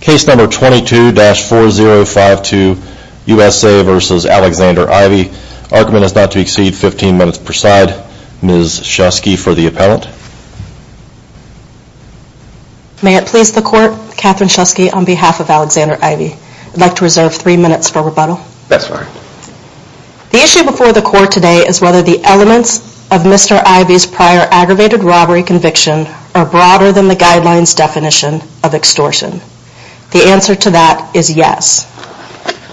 Case number 22-4052, USA v. Alexander Ivy. Argument is not to exceed 15 minutes per side. Ms. Shusky for the appellant. May it please the court, Catherine Shusky on behalf of Alexander Ivy. I'd like to reserve three minutes for rebuttal. That's all right. The issue before the court today is whether the elements of Mr. Ivy's prior aggravated robbery conviction are broader than the guidelines definition of extortion. The answer to that is yes.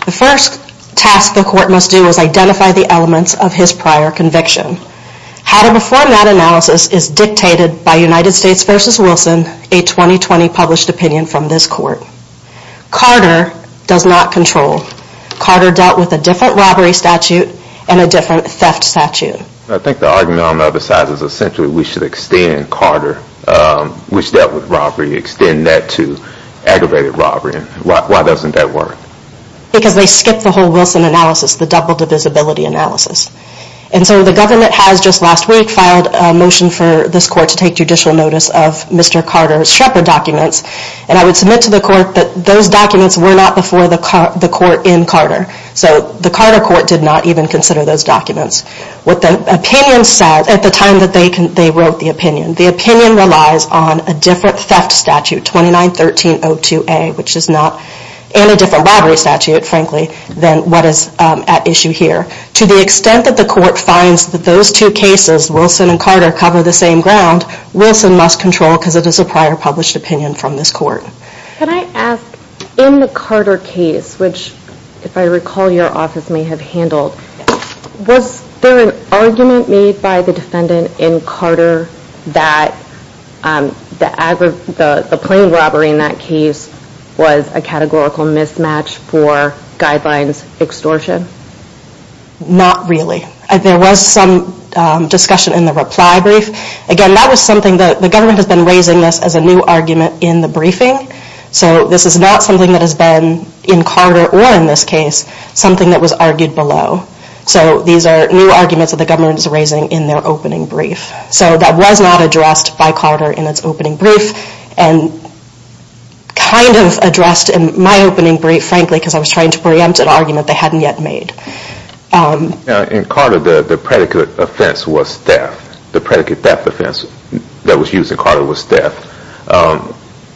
The first task the court must do is identify the elements of his prior conviction. How to perform that analysis is dictated by United States v. Wilson, a 2020 published opinion from this court. Carter does not control. Carter dealt with a different robbery statute and a different theft statute. I think the argument on the other side is essentially we should extend Carter, which dealt with robbery, extend that to aggravated robbery. Why doesn't that work? Because they skipped the whole Wilson analysis, the double divisibility analysis. And so the government has just last week filed a motion for this court to take judicial notice of Mr. Carter's Shrepper documents. And I would submit to the court that those documents were not before the court in Carter. So the Carter court did not even consider those documents. What the opinion said at the time that they wrote the opinion, the opinion relies on a different theft statute, 29-1302A, which is not in a different robbery statute, frankly, than what is at issue here. To the extent that the court finds that those two cases, Wilson and Carter, cover the same ground, Wilson must control because it is a prior published opinion from this court. Can I ask, in the Carter case, which if I recall your office may have handled, was there an argument made by the defendant in Carter that the plane robbery in that case was a categorical mismatch for guidelines extortion? Not really. There was some discussion in the reply brief. Again, that was something that the government has been raising as a new argument in the briefing. So this is not something that has been, in Carter or in this case, something that was argued below. So these are new arguments that the government is raising in their opening brief. So that was not addressed by Carter in its opening brief. And kind of addressed in my opening brief, frankly, because I was trying to preempt an argument they hadn't yet made. In Carter, the predicate offense was theft. The predicate theft offense that was used in Carter was theft.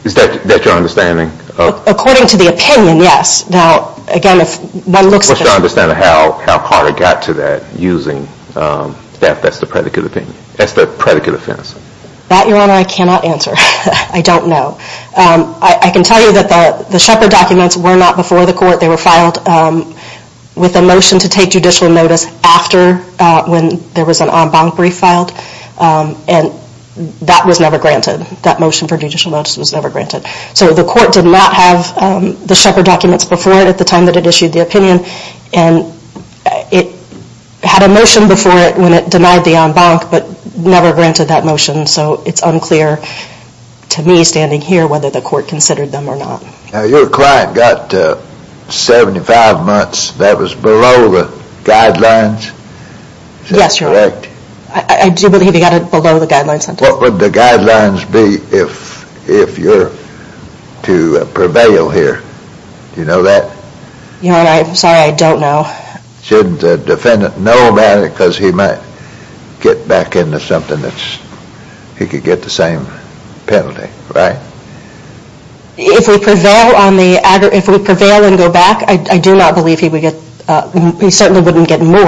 Is that your understanding? According to the opinion, yes. Now, again, if one looks at... What's your understanding of how Carter got to that, using theft as the predicate offense? That, Your Honor, I cannot answer. I don't know. I can tell you that the Shepard documents were not before the court. They were filed with a motion to take judicial notice after when there was an en banc brief filed. And that was never granted. That motion for judicial notice was never granted. So the court did not have the Shepard documents before it at the time that it issued the opinion. And it had a motion before it when it denied the en banc, but never granted that motion. So it's unclear to me, standing here, whether the court considered them or not. Now, your client got 75 months. That was below the guidelines? Yes, Your Honor. Is that correct? I do believe he got it below the guidelines. What would the guidelines be if you're to prevail here? Do you know that? Your Honor, I'm sorry, I don't know. Shouldn't the defendant know about it because he might get back into something that's... He could get the same penalty, right? If we prevail and go back, I do not believe he would get... He certainly wouldn't get more.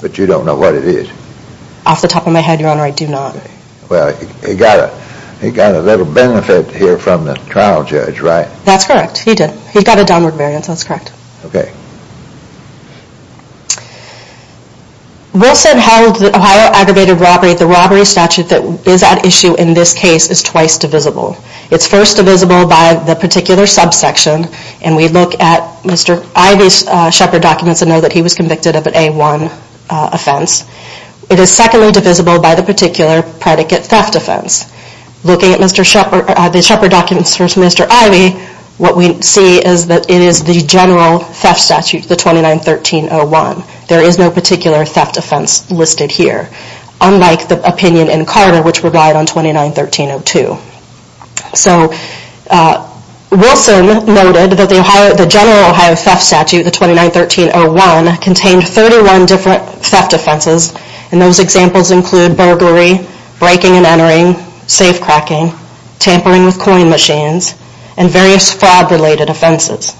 But you don't know what it is? Off the top of my head, Your Honor, I do not. Well, he got a little benefit here from the trial judge, right? That's correct, he did. He got a downward variance, that's correct. Wilson held that Ohio aggravated robbery, the robbery statute that is at issue in this case, is twice divisible. It's first divisible by the particular subsection, and we look at Mr. Ivey's Shepard documents and know that he was convicted of an A1 offense. It is secondly divisible by the particular predicate theft offense. Looking at the Shepard documents for Mr. Ivey, what we see is that it is the general theft statute, the 29-1301. There is no particular theft offense listed here, unlike the opinion in Carter, which relied on 29-1302. So Wilson noted that the general Ohio theft statute, the 29-1301, contained 31 different theft offenses, and those examples include burglary, breaking and entering, safe cracking, tampering with coin machines, and various fraud-related offenses.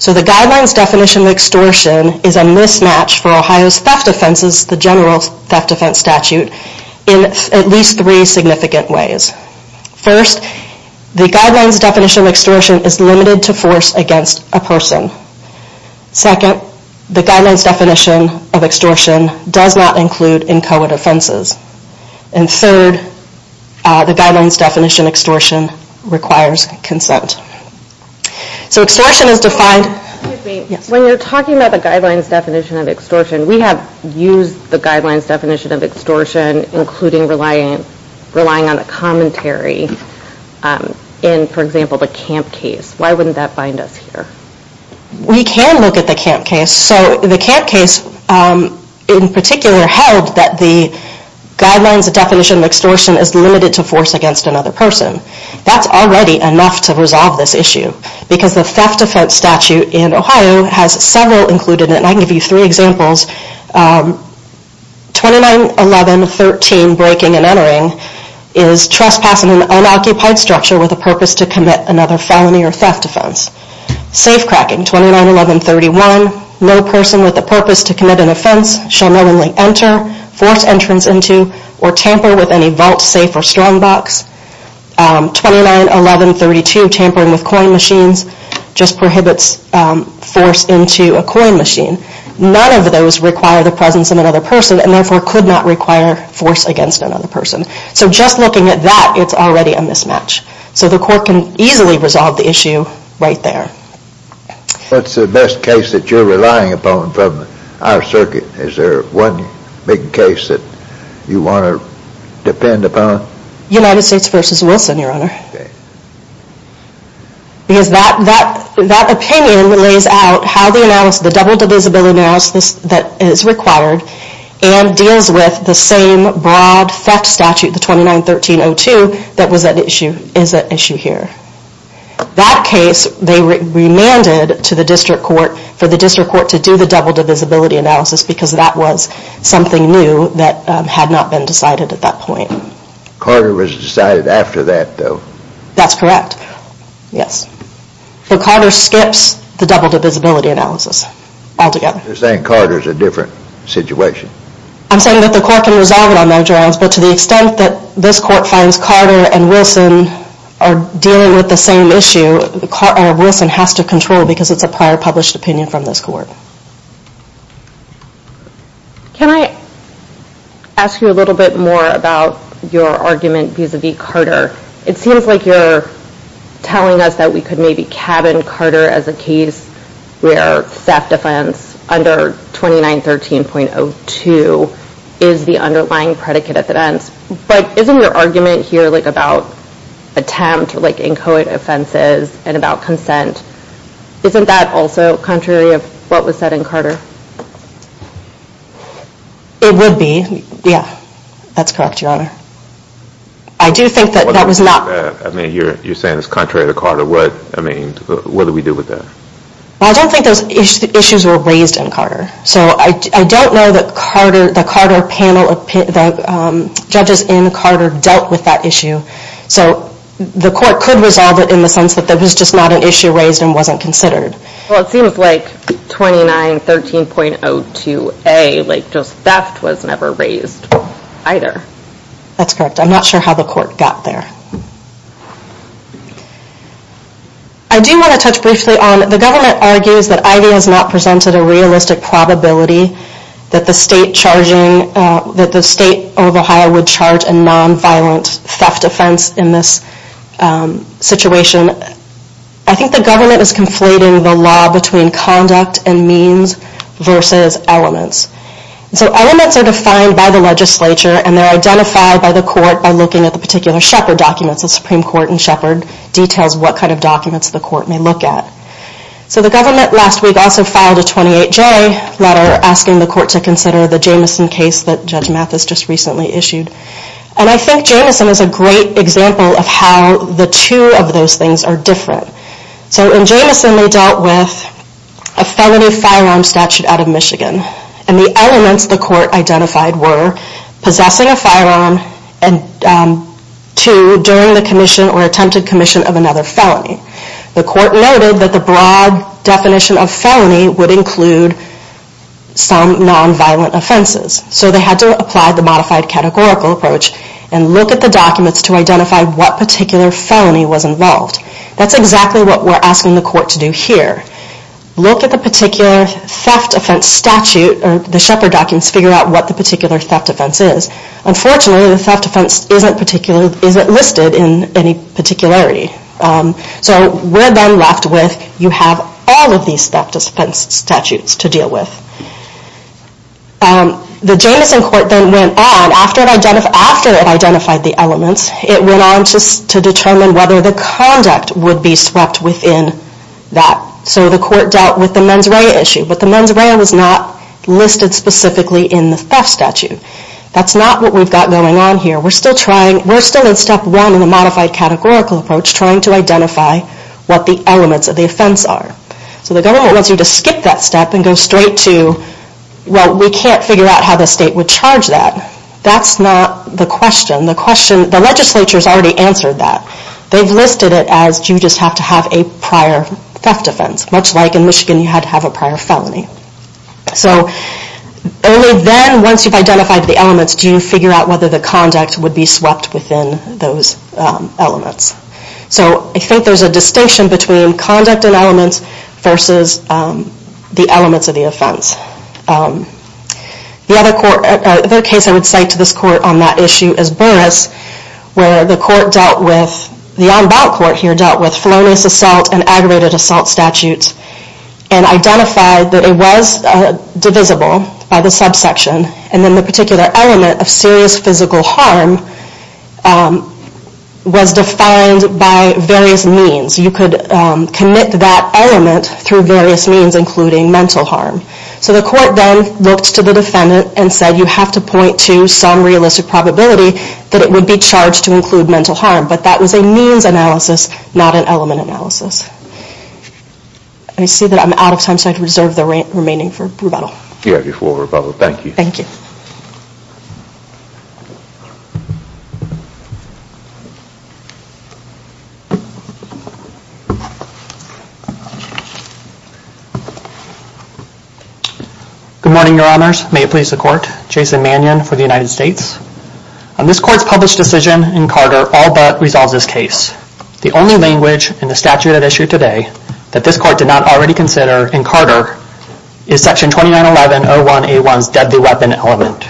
So the guidelines definition of extortion is a mismatch for Ohio's theft offenses, the general theft offense statute, in at least three significant ways. First, the guidelines definition of extortion is limited to force against a person. Second, the guidelines definition of extortion does not include inchoate offenses. And third, the guidelines definition of extortion requires consent. So extortion is defined... When you're talking about the guidelines definition of extortion, we have used the guidelines definition of extortion, including relying on a commentary in, for example, the camp case. Why wouldn't that bind us here? We can look at the camp case. So the camp case, in particular, held that the guidelines definition of extortion is limited to force against another person. That's already enough to resolve this issue, because the theft offense statute in Ohio has several included, and I can give you three examples. 2911.13, breaking and entering, is trespassing an unoccupied structure with a purpose to commit another felony or theft offense. Safe cracking, 2911.31, no person with a purpose to commit an offense shall knowingly enter, force entrance into, or tamper with any vault, safe, or strong box. 2911.32, tampering with coin machines, just prohibits force into a coin machine. None of those require the presence of another person, and therefore could not require force against another person. So just looking at that, it's already a mismatch. So the court can easily resolve the issue right there. What's the best case that you're relying upon from our circuit? Is there one big case that you want to depend upon? United States v. Wilson, Your Honor. Because that opinion lays out how the double divisibility analysis that is required and deals with the same broad theft statute, the 2913.02, that is at issue here. That case, they remanded to the district court for the district court to do the double divisibility analysis because that was something new that had not been decided at that point. Carter was decided after that, though. That's correct, yes. But Carter skips the double divisibility analysis altogether. You're saying Carter's a different situation? I'm saying that the court can resolve it on their grounds, but to the extent that this court finds Carter and Wilson are dealing with the same issue, Wilson has to control because it's a prior published opinion from this court. Can I ask you a little bit more about your argument vis-a-vis Carter? It seems like you're telling us that we could maybe cabin Carter as a case where theft offense under 2913.02 is the underlying predicate at the end. But isn't your argument here about attempt, like inchoate offenses, and about consent, isn't that also contrary of what was said in Carter? It would be, yeah. That's correct, Your Honor. I do think that that was not. You're saying it's contrary to Carter. What do we do with that? I don't think those issues were raised in Carter. I don't know that the judges in Carter dealt with that issue. The court could resolve it in the sense that it was just not an issue raised and wasn't considered. It seems like 2913.02a, just theft, was never raised either. That's correct. I'm not sure how the court got there. I do want to touch briefly on the government argues that IV has not presented a realistic probability that the state of Ohio would charge a nonviolent theft offense in this situation. I think the government is conflating the law between conduct and means versus elements. Elements are defined by the legislature and they're identified by the court by looking at the particular Sheppard documents. The Supreme Court in Sheppard details what kind of documents the court may look at. The government last week also filed a 28J letter asking the court to consider the Jameson case that Judge Mathis just recently issued. I think Jameson is a great example of how the two of those things are different. In Jameson, they dealt with a felony firearm statute out of Michigan. And the elements the court identified were possessing a firearm, and two, during the commission or attempted commission of another felony. The court noted that the broad definition of felony would include some nonviolent offenses. So they had to apply the modified categorical approach and look at the documents to identify what particular felony was involved. That's exactly what we're asking the court to do here. Look at the particular theft offense statute, or the Sheppard documents, figure out what the particular theft offense is. Unfortunately, the theft offense isn't listed in any particularity. So we're then left with you have all of these theft offense statutes to deal with. The Jameson court then went on, after it identified the elements, it went on to determine whether the conduct would be swept within that. So the court dealt with the mens rea issue, but the mens rea was not listed specifically in the theft statute. That's not what we've got going on here. We're still in step one in the modified categorical approach, trying to identify what the elements of the offense are. So the government wants you to skip that step and go straight to, well, we can't figure out how the state would charge that. That's not the question. The question, the legislature has already answered that. They've listed it as you just have to have a prior theft offense, much like in Michigan you had to have a prior felony. So only then, once you've identified the elements, do you figure out whether the conduct would be swept within those elements. So I think there's a distinction between conduct and elements versus the elements of the offense. The other case I would cite to this court on that issue is Burris, where the on-bound court here dealt with felonious assault and aggravated assault statutes and identified that it was divisible by the subsection, and then the particular element of serious physical harm was defined by various means. You could commit that element through various means, including mental harm. So the court then looked to the defendant and said you have to point to some realistic probability that it would be charged to include mental harm, but that was a means analysis, not an element analysis. I see that I'm out of time, so I reserve the remaining for rebuttal. Thank you. Thank you. Good morning, Your Honors. May it please the Court. Jason Mannion for the United States. This Court's published decision in Carter all but resolves this case. The only language in the statute at issue today that this Court did not already consider in Carter is Section 2911.01A1's deadly weapon element.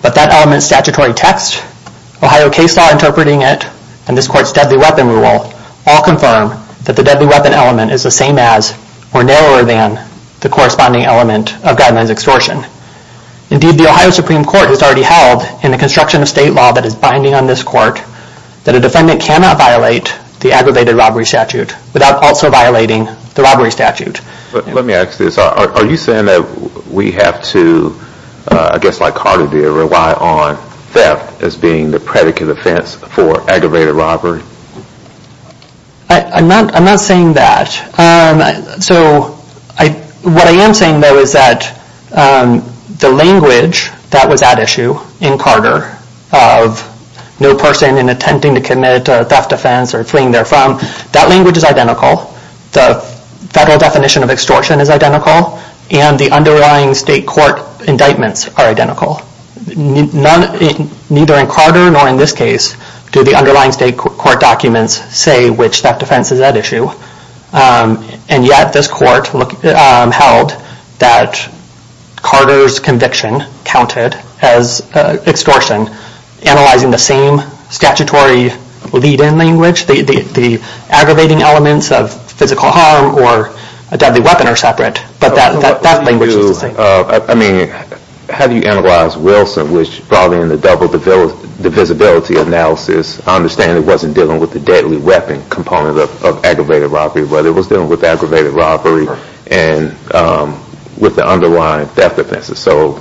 But that element's statutory text, Ohio case law interpreting it, and this Court's deadly weapon rule all confirm that the deadly weapon element is the same as or narrower than the corresponding element of guidelines extortion. Indeed, the Ohio Supreme Court has already held in the construction of state law that is binding on this Court that a defendant cannot violate the aggravated robbery statute without also violating the robbery statute. Let me ask this. Are you saying that we have to, I guess like Carter did, rely on theft as being the predicate offense for aggravated robbery? I'm not saying that. So what I am saying, though, is that the language that was at issue in Carter of no person in attempting to commit a theft offense or fleeing therefrom, that language is identical. The federal definition of extortion is identical, and the underlying state court indictments are identical. Neither in Carter nor in this case do the underlying state court documents say which theft offense is at issue. And yet this Court held that Carter's conviction counted as extortion, analyzing the same statutory lead-in language, the aggravating elements of physical harm or a deadly weapon are separate. But that language is the same. I mean, how do you analyze Wilson, which probably in the double divisibility analysis, I understand it wasn't dealing with the deadly weapon component of aggravated robbery, but it was dealing with aggravated robbery and with the underlying theft offenses. So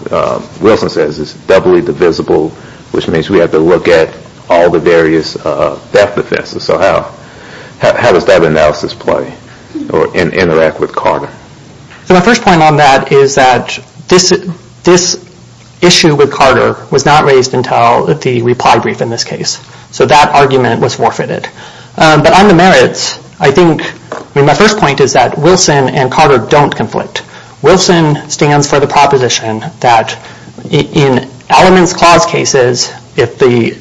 Wilson says it's doubly divisible, which means we have to look at all the various theft offenses. So how does that analysis play and interact with Carter? So my first point on that is that this issue with Carter was not raised until the reply brief in this case. So that argument was forfeited. But on the merits, I think my first point is that Wilson and Carter don't conflict. Wilson stands for the proposition that in elements clause cases, if the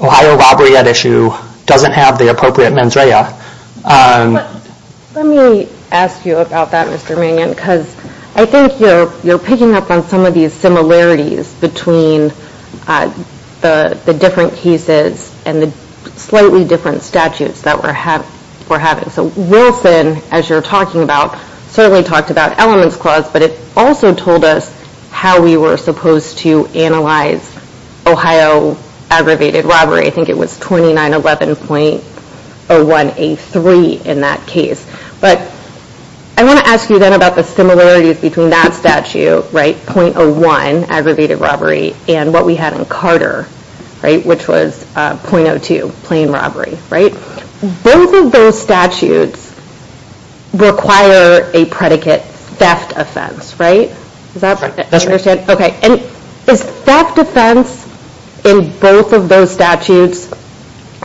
Ohio robbery at issue doesn't have the appropriate mens rea... Let me ask you about that, Mr. Manion, because I think you're picking up on some of these similarities between the different cases and the slightly different statutes that we're having. So Wilson, as you're talking about, certainly talked about elements clause, but it also told us how we were supposed to analyze Ohio aggravated robbery. I think it was 2911.01A3 in that case. But I want to ask you then about the similarities between that statute, .01, aggravated robbery, and what we had in Carter, which was .02, plain robbery. Both of those statutes require a predicate theft offense, right? Does that make sense? And is theft offense in both of those statutes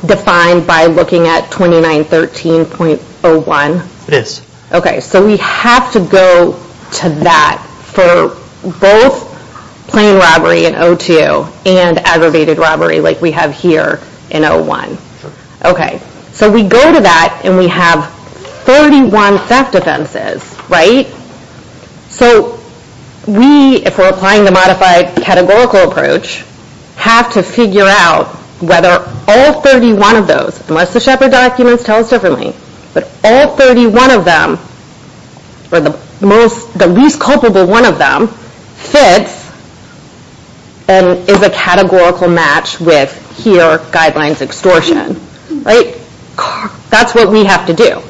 defined by looking at 2913.01? It is. Okay, so we have to go to that for both plain robbery in .02 and aggravated robbery like we have here in .01. Okay, so we go to that and we have 31 theft offenses, right? So we, if we're applying the modified categorical approach, have to figure out whether all 31 of those, unless the Shepard documents tell us differently, but all 31 of them, or the least culpable one of them, fits and is a categorical match with, here, guidelines extortion, right? That's what we have to do,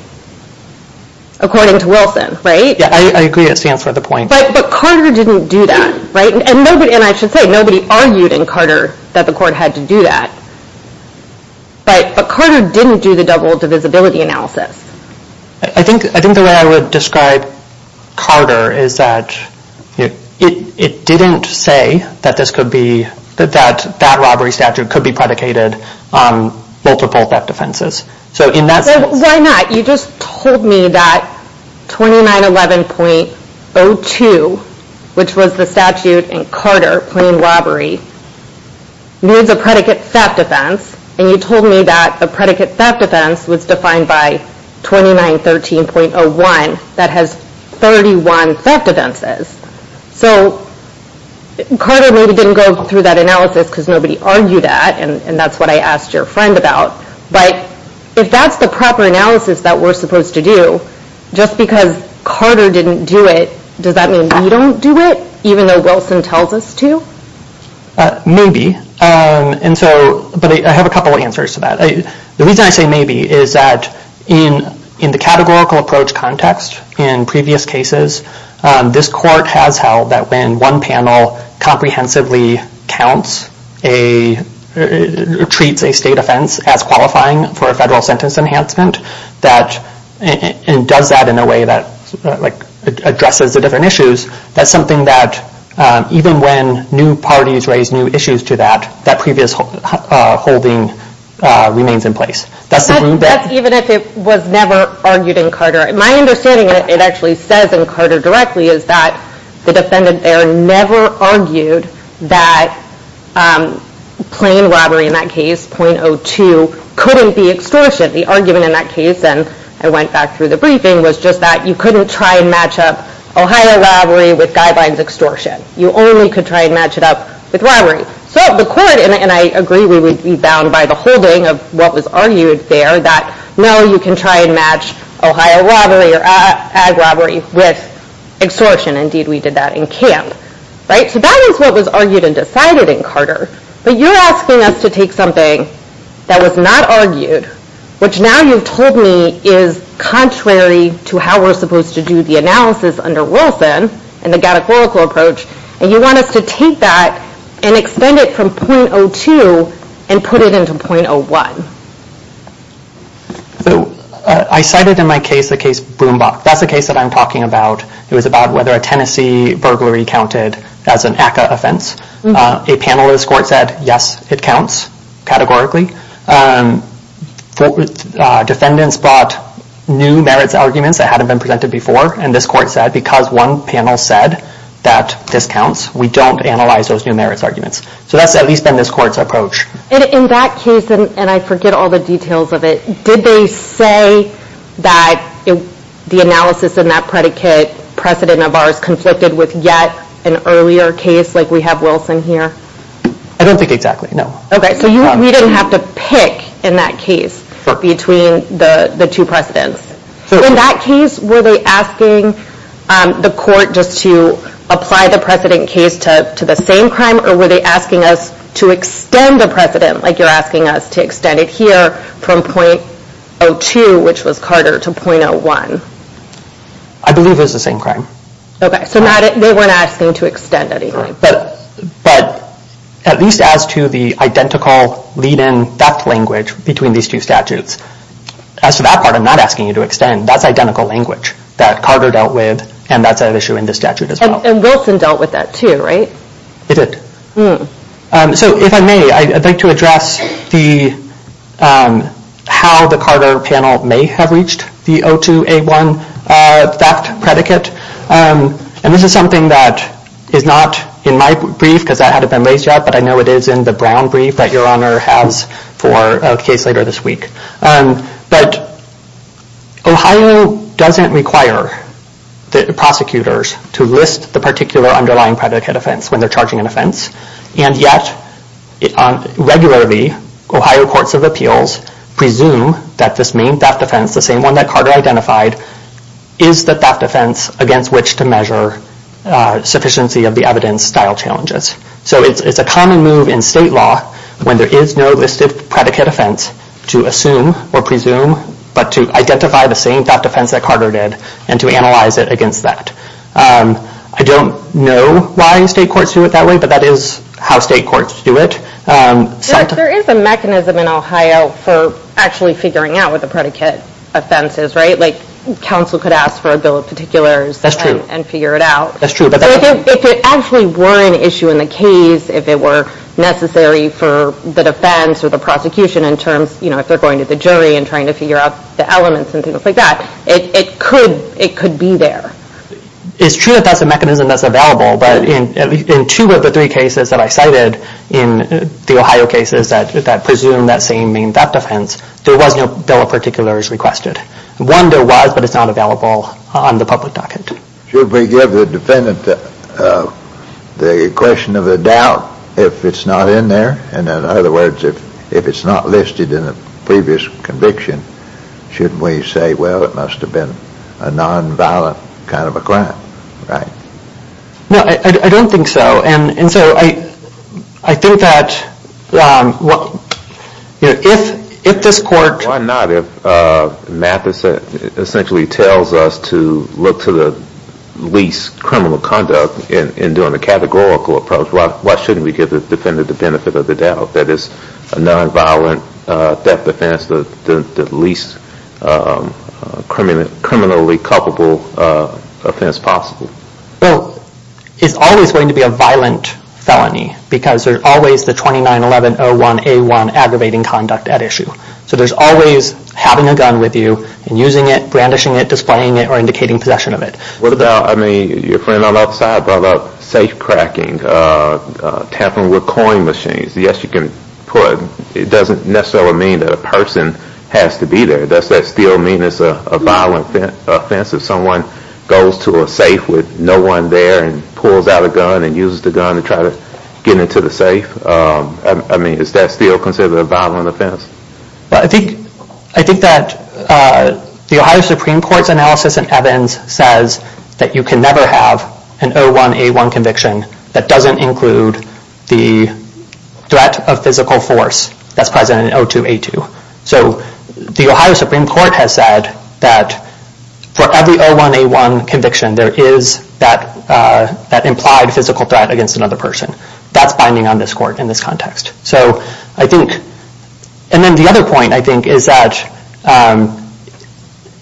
according to Wilson, right? Yeah, I agree that stands for the point. But Carter didn't do that, right? And I should say, nobody argued in Carter that the court had to do that. But Carter didn't do the double divisibility analysis. I think the way I would describe Carter is that it didn't say that this could be, that that robbery statute could be predicated on multiple theft offenses. So in that sense... Why not? You just told me that 2911.02, which was the statute in Carter, plain robbery, needs a predicate theft offense, and you told me that a predicate theft offense was defined by 2913.01 that has 31 theft offenses. So Carter maybe didn't go through that analysis because nobody argued that, and that's what I asked your friend about. But if that's the proper analysis that we're supposed to do, just because Carter didn't do it, does that mean we don't do it, even though Wilson tells us to? Maybe. But I have a couple of answers to that. The reason I say maybe is that in the categorical approach context, in previous cases, this court has held that when one panel comprehensively counts, treats a state offense as qualifying for a federal sentence enhancement, and does that in a way that addresses the different issues, that's something that even when new parties raise new issues to that, that previous holding remains in place. That's even if it was never argued in Carter. My understanding, and it actually says in Carter directly, is that the defendant there never argued that plain robbery, in that case, .02, couldn't be extortion. The argument in that case, and I went back through the briefing, was just that you couldn't try and match up Ohio robbery with guidelines extortion. You only could try and match it up with robbery. So the court, and I agree we would be bound by the holding of what was argued there, that no, you can try and match Ohio robbery or ag robbery with extortion. Indeed, we did that in Camp. So that is what was argued and decided in Carter. But you're asking us to take something that was not argued, which now you've told me is contrary to how we're supposed to do the analysis under Wilson and the categorical approach, and you want us to take that and extend it from .02 and put it into .01. So I cited in my case the case Broombach. That's the case that I'm talking about. It was about whether a Tennessee burglary counted as an ACCA offense. A panel of this court said, yes, it counts categorically. Defendants brought new merits arguments that hadn't been presented before, and this court said because one panel said that this counts, we don't analyze those new merits arguments. So that's at least been this court's approach. In that case, and I forget all the details of it, did they say that the analysis in that predicate precedent of ours I don't think exactly, no. Okay, so we didn't have to pick in that case between the two precedents. In that case, were they asking the court just to apply the precedent case to the same crime, or were they asking us to extend the precedent like you're asking us to extend it here from .02, which was Carter, to .01? I believe it was the same crime. Okay, so they weren't asking to extend anything. But at least as to the identical lead-in theft language between these two statutes, as to that part, I'm not asking you to extend. That's identical language that Carter dealt with, and that's an issue in the statute as well. And Wilson dealt with that too, right? He did. So if I may, I'd like to address how the Carter panel may have reached the .02A1 theft predicate. And this is something that is not in my brief, because that hadn't been raised yet, but I know it is in the Brown brief that Your Honor has for a case later this week. But Ohio doesn't require the prosecutors to list the particular underlying predicate offense when they're charging an offense. And yet, regularly, Ohio courts of appeals presume that this main theft offense, the same one that Carter identified, is the theft offense against which to measure sufficiency of the evidence style challenges. So it's a common move in state law, when there is no listed predicate offense, to assume or presume but to identify the same theft offense that Carter did and to analyze it against that. I don't know why state courts do it that way, but that is how state courts do it. There is a mechanism in Ohio for actually figuring out what the predicate offense is, right? Like, counsel could ask for a bill of particulars and figure it out. That's true. So if it actually were an issue in the case, if it were necessary for the defense or the prosecution in terms, you know, if they're going to the jury and trying to figure out the elements and things like that, it could be there. It's true that that's a mechanism that's available, but in two of the three cases that I cited in the Ohio cases that presume that same main theft offense, there was no bill of particulars requested. One, there was, but it's not available on the public docket. Should we give the defendant the question of the doubt if it's not in there? And in other words, if it's not listed in the previous conviction, shouldn't we say, well, it must have been a nonviolent kind of a crime, right? No, I don't think so. And so I think that if this court- Why not if math essentially tells us to look to the least criminal conduct in doing a categorical approach, why shouldn't we give the defendant the benefit of the doubt? That it's a nonviolent theft offense, the least criminally culpable offense possible? Well, it's always going to be a violent felony because there's always the 291101A1 aggravating conduct at issue. So there's always having a gun with you and using it, brandishing it, displaying it, or indicating possession of it. What about, I mean, your friend outside brought up safe cracking, tapping with coin machines. Yes, you can put- It doesn't necessarily mean that a person has to be there. Does that still mean it's a violent offense if someone goes to a safe with no one there and pulls out a gun and uses the gun to try to get into the safe? I mean, is that still considered a violent offense? I think that the Ohio Supreme Court's analysis in Evans says that you can never have an O1A1 conviction that doesn't include the threat of physical force that's present in O2A2. So the Ohio Supreme Court has said that for every O1A1 conviction, there is that implied physical threat against another person. That's binding on this court in this context. And then the other point, I think, is that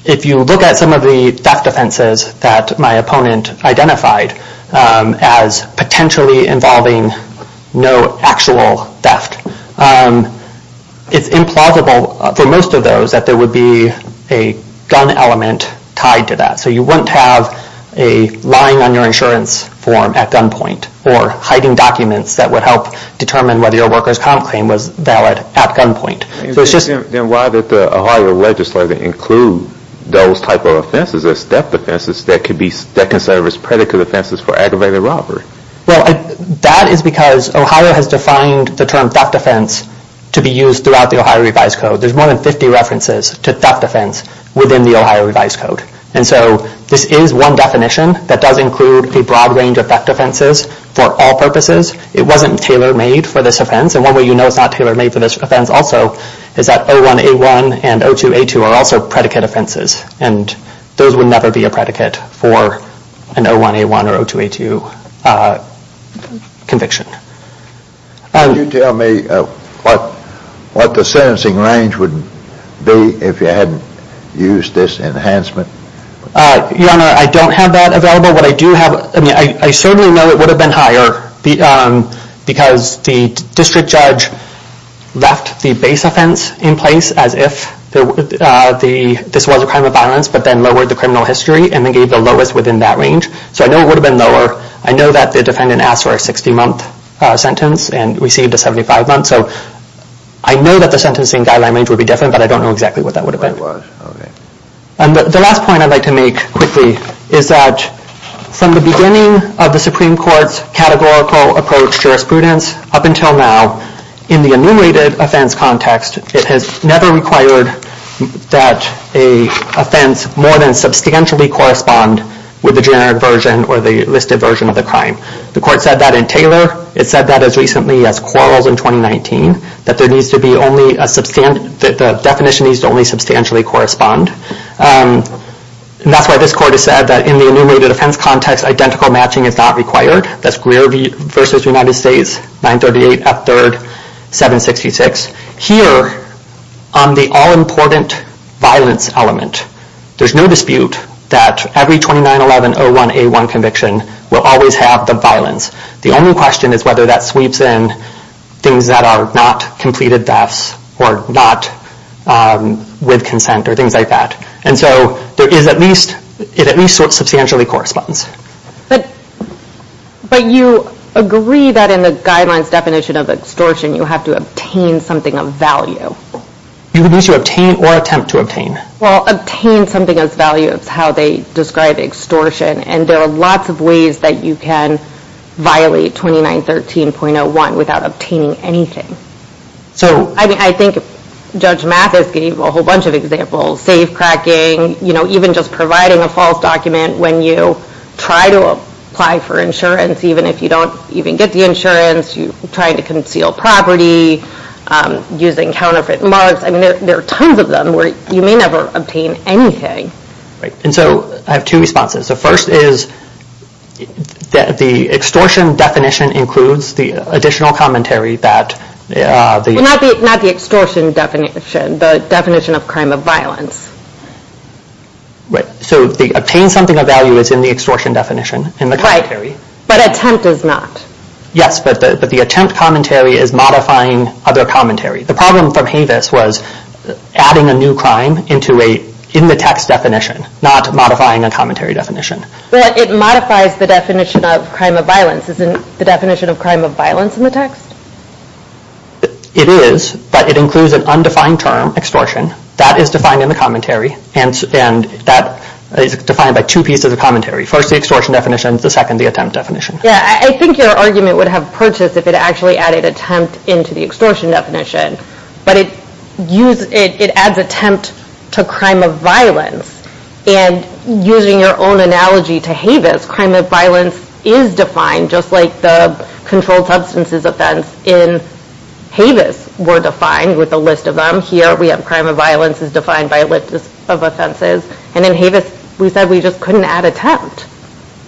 if you look at some of the theft offenses that my opponent identified as potentially involving no actual theft, it's implausible for most of those that there would be a gun element tied to that. So you wouldn't have a line on your insurance form at gunpoint or hiding documents that would help determine whether your worker's comp claim was valid at gunpoint. Then why did the Ohio legislature include those type of offenses as theft offenses that can serve as predicate offenses for aggravated robbery? Well, that is because Ohio has defined the term theft offense to be used throughout the Ohio Revised Code. There's more than 50 references to theft offense within the Ohio Revised Code. And so this is one definition that does include a broad range of theft offenses for all purposes. It wasn't tailor-made for this offense. And one way you know it's not tailor-made for this offense also is that O1A1 and O2A2 are also predicate offenses. And those would never be a predicate for an O1A1 or O2A2 conviction. Could you tell me what the sentencing range would be if you hadn't used this enhancement? Your Honor, I don't have that available. What I do have, I mean I certainly know it would have been higher because the district judge left the base offense in place as if this was a crime of violence but then lowered the criminal history and then gave the lowest within that range. So I know it would have been lower. I know that the defendant asked for a 60-month sentence and received a 75-month. So I know that the sentencing guideline range would be different but I don't know exactly what that would have been. The last point I'd like to make quickly is that from the beginning of the Supreme Court's categorical approach to jurisprudence up until now, in the enumerated offense context, it has never required that an offense more than substantially correspond with the generic version or the listed version of the crime. The court said that in Taylor. It said that as recently as Quarles in 2019, that the definition needs to only substantially correspond. And that's why this court has said that in the enumerated offense context, identical matching is not required. That's Greer v. United States, 938 F. 3rd, 766. Here, on the all-important violence element, there's no dispute that every 2911-01A1 conviction will always have the violence. The only question is whether that sweeps in things that are not completed thefts or not with consent or things like that. And so it at least substantially corresponds. But you agree that in the guidelines definition of extortion, you have to obtain something of value. You can either obtain or attempt to obtain. Well, obtain something of value is how they describe extortion, and there are lots of ways that you can violate 2913.01 without obtaining anything. I think Judge Mathis gave a whole bunch of examples. Safe-cracking, even just providing a false document when you try to apply for insurance, even if you don't even get the insurance, trying to conceal property, using counterfeit mugs. I mean, there are tons of them where you may never obtain anything. And so I have two responses. The first is that the extortion definition includes the additional commentary that the— Well, not the extortion definition, the definition of crime of violence. Right, so the obtain something of value is in the extortion definition, in the commentary. Right, but attempt is not. Yes, but the attempt commentary is modifying other commentary. The problem from Havis was adding a new crime in the text definition, not modifying a commentary definition. But it modifies the definition of crime of violence. Isn't the definition of crime of violence in the text? It is, but it includes an undefined term, extortion. That is defined in the commentary, and that is defined by two pieces of commentary. First, the extortion definition. The second, the attempt definition. Yeah, I think your argument would have purchased if it actually added attempt into the extortion definition. But it adds attempt to crime of violence. And using your own analogy to Havis, crime of violence is defined, just like the controlled substances offense in Havis were defined with a list of them. Here, we have crime of violence is defined by a list of offenses. And in Havis, we said we just couldn't add attempt.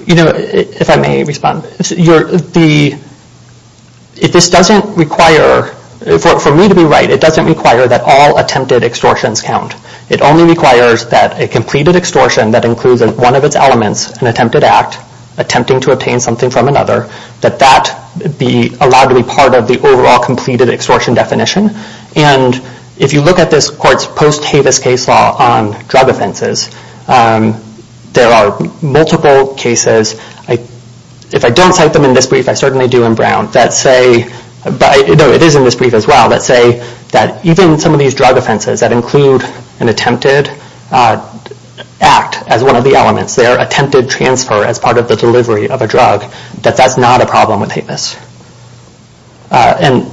You know, if I may respond, if this doesn't require—for me to be right, it doesn't require that all attempted extortions count. It only requires that a completed extortion that includes one of its elements, an attempted act, attempting to obtain something from another, that that be allowed to be part of the overall completed extortion definition. And if you look at this court's post-Havis case law on drug offenses, there are multiple cases. If I don't cite them in this brief, I certainly do in Brown. No, it is in this brief as well. Let's say that even some of these drug offenses that include an attempted act as one of the elements, their attempted transfer as part of the delivery of a drug, that that's not a problem with Havis. And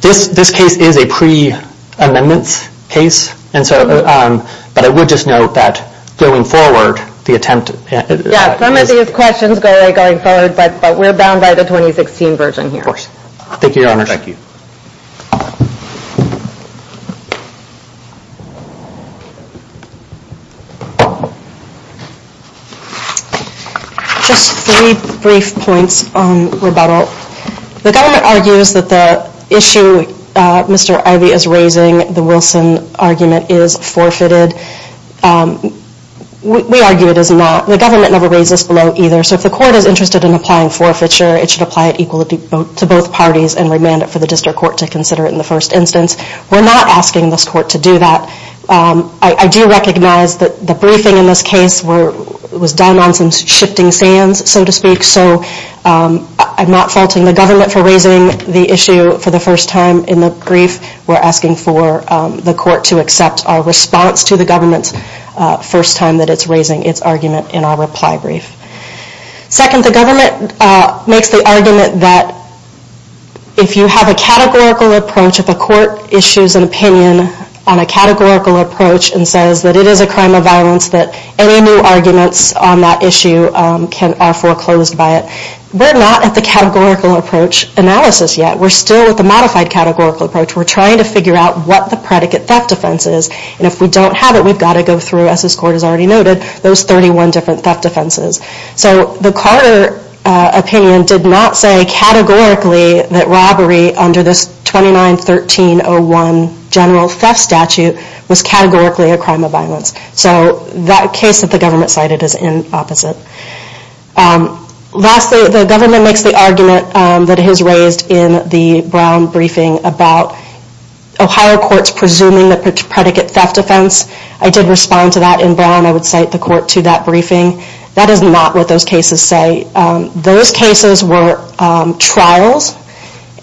this case is a pre-amendments case. And so—but I would just note that going forward, the attempt— Yeah, some of these questions go away going forward, but we're bound by the 2016 version here. Of course. Thank you, Your Honor. Thank you. Just three brief points on rebuttal. The government argues that the issue Mr. Ivey is raising, the Wilson argument, is forfeited. We argue it is not. The government never raised this below either. So if the court is interested in applying forfeiture, it should apply it equally to both parties and remand it for the district court to consider it in the first instance. We're not asking this court to do that. I do recognize that the briefing in this case was done on some shifting sands, so to speak. So I'm not faulting the government for raising the issue for the first time in the brief. We're asking for the court to accept our response to the government's first time that it's raising its argument in our reply brief. Second, the government makes the argument that if you have a categorical approach, if a court issues an opinion on a categorical approach and says that it is a crime of violence, that any new arguments on that issue are foreclosed by it, we're not at the categorical approach analysis yet. We're still at the modified categorical approach. We're trying to figure out what the predicate theft defense is, and if we don't have it, we've got to go through, as this court has already noted, those 31 different theft defenses. So the Carter opinion did not say categorically that robbery under this 29-1301 general theft statute was categorically a crime of violence. So that case that the government cited is in opposite. Lastly, the government makes the argument that it has raised in the Brown briefing about Ohio courts presuming the predicate theft defense. I did respond to that in Brown. I would cite the court to that briefing. That is not what those cases say. Those cases were trials,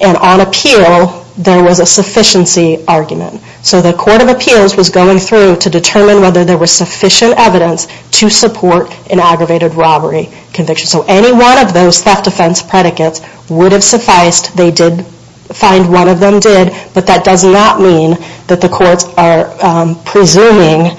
and on appeal there was a sufficiency argument. So the court of appeals was going through to determine whether there was sufficient evidence to support an aggravated robbery conviction. So any one of those theft defense predicates would have sufficed. They did find one of them did, but that does not mean that the courts are presuming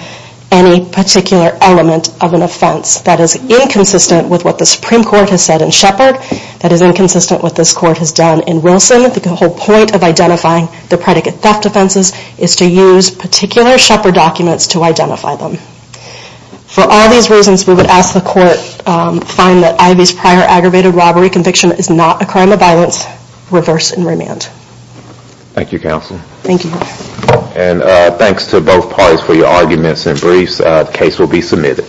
any particular element of an offense. That is inconsistent with what the Supreme Court has said in Shepard. That is inconsistent with what this court has done in Wilson. The whole point of identifying the predicate theft defenses is to use particular Shepard documents to identify them. For all these reasons, we would ask the court to find that reverse and remand. Thank you counsel. Thank you. Thanks to both parties for your arguments and briefs. The case will be submitted.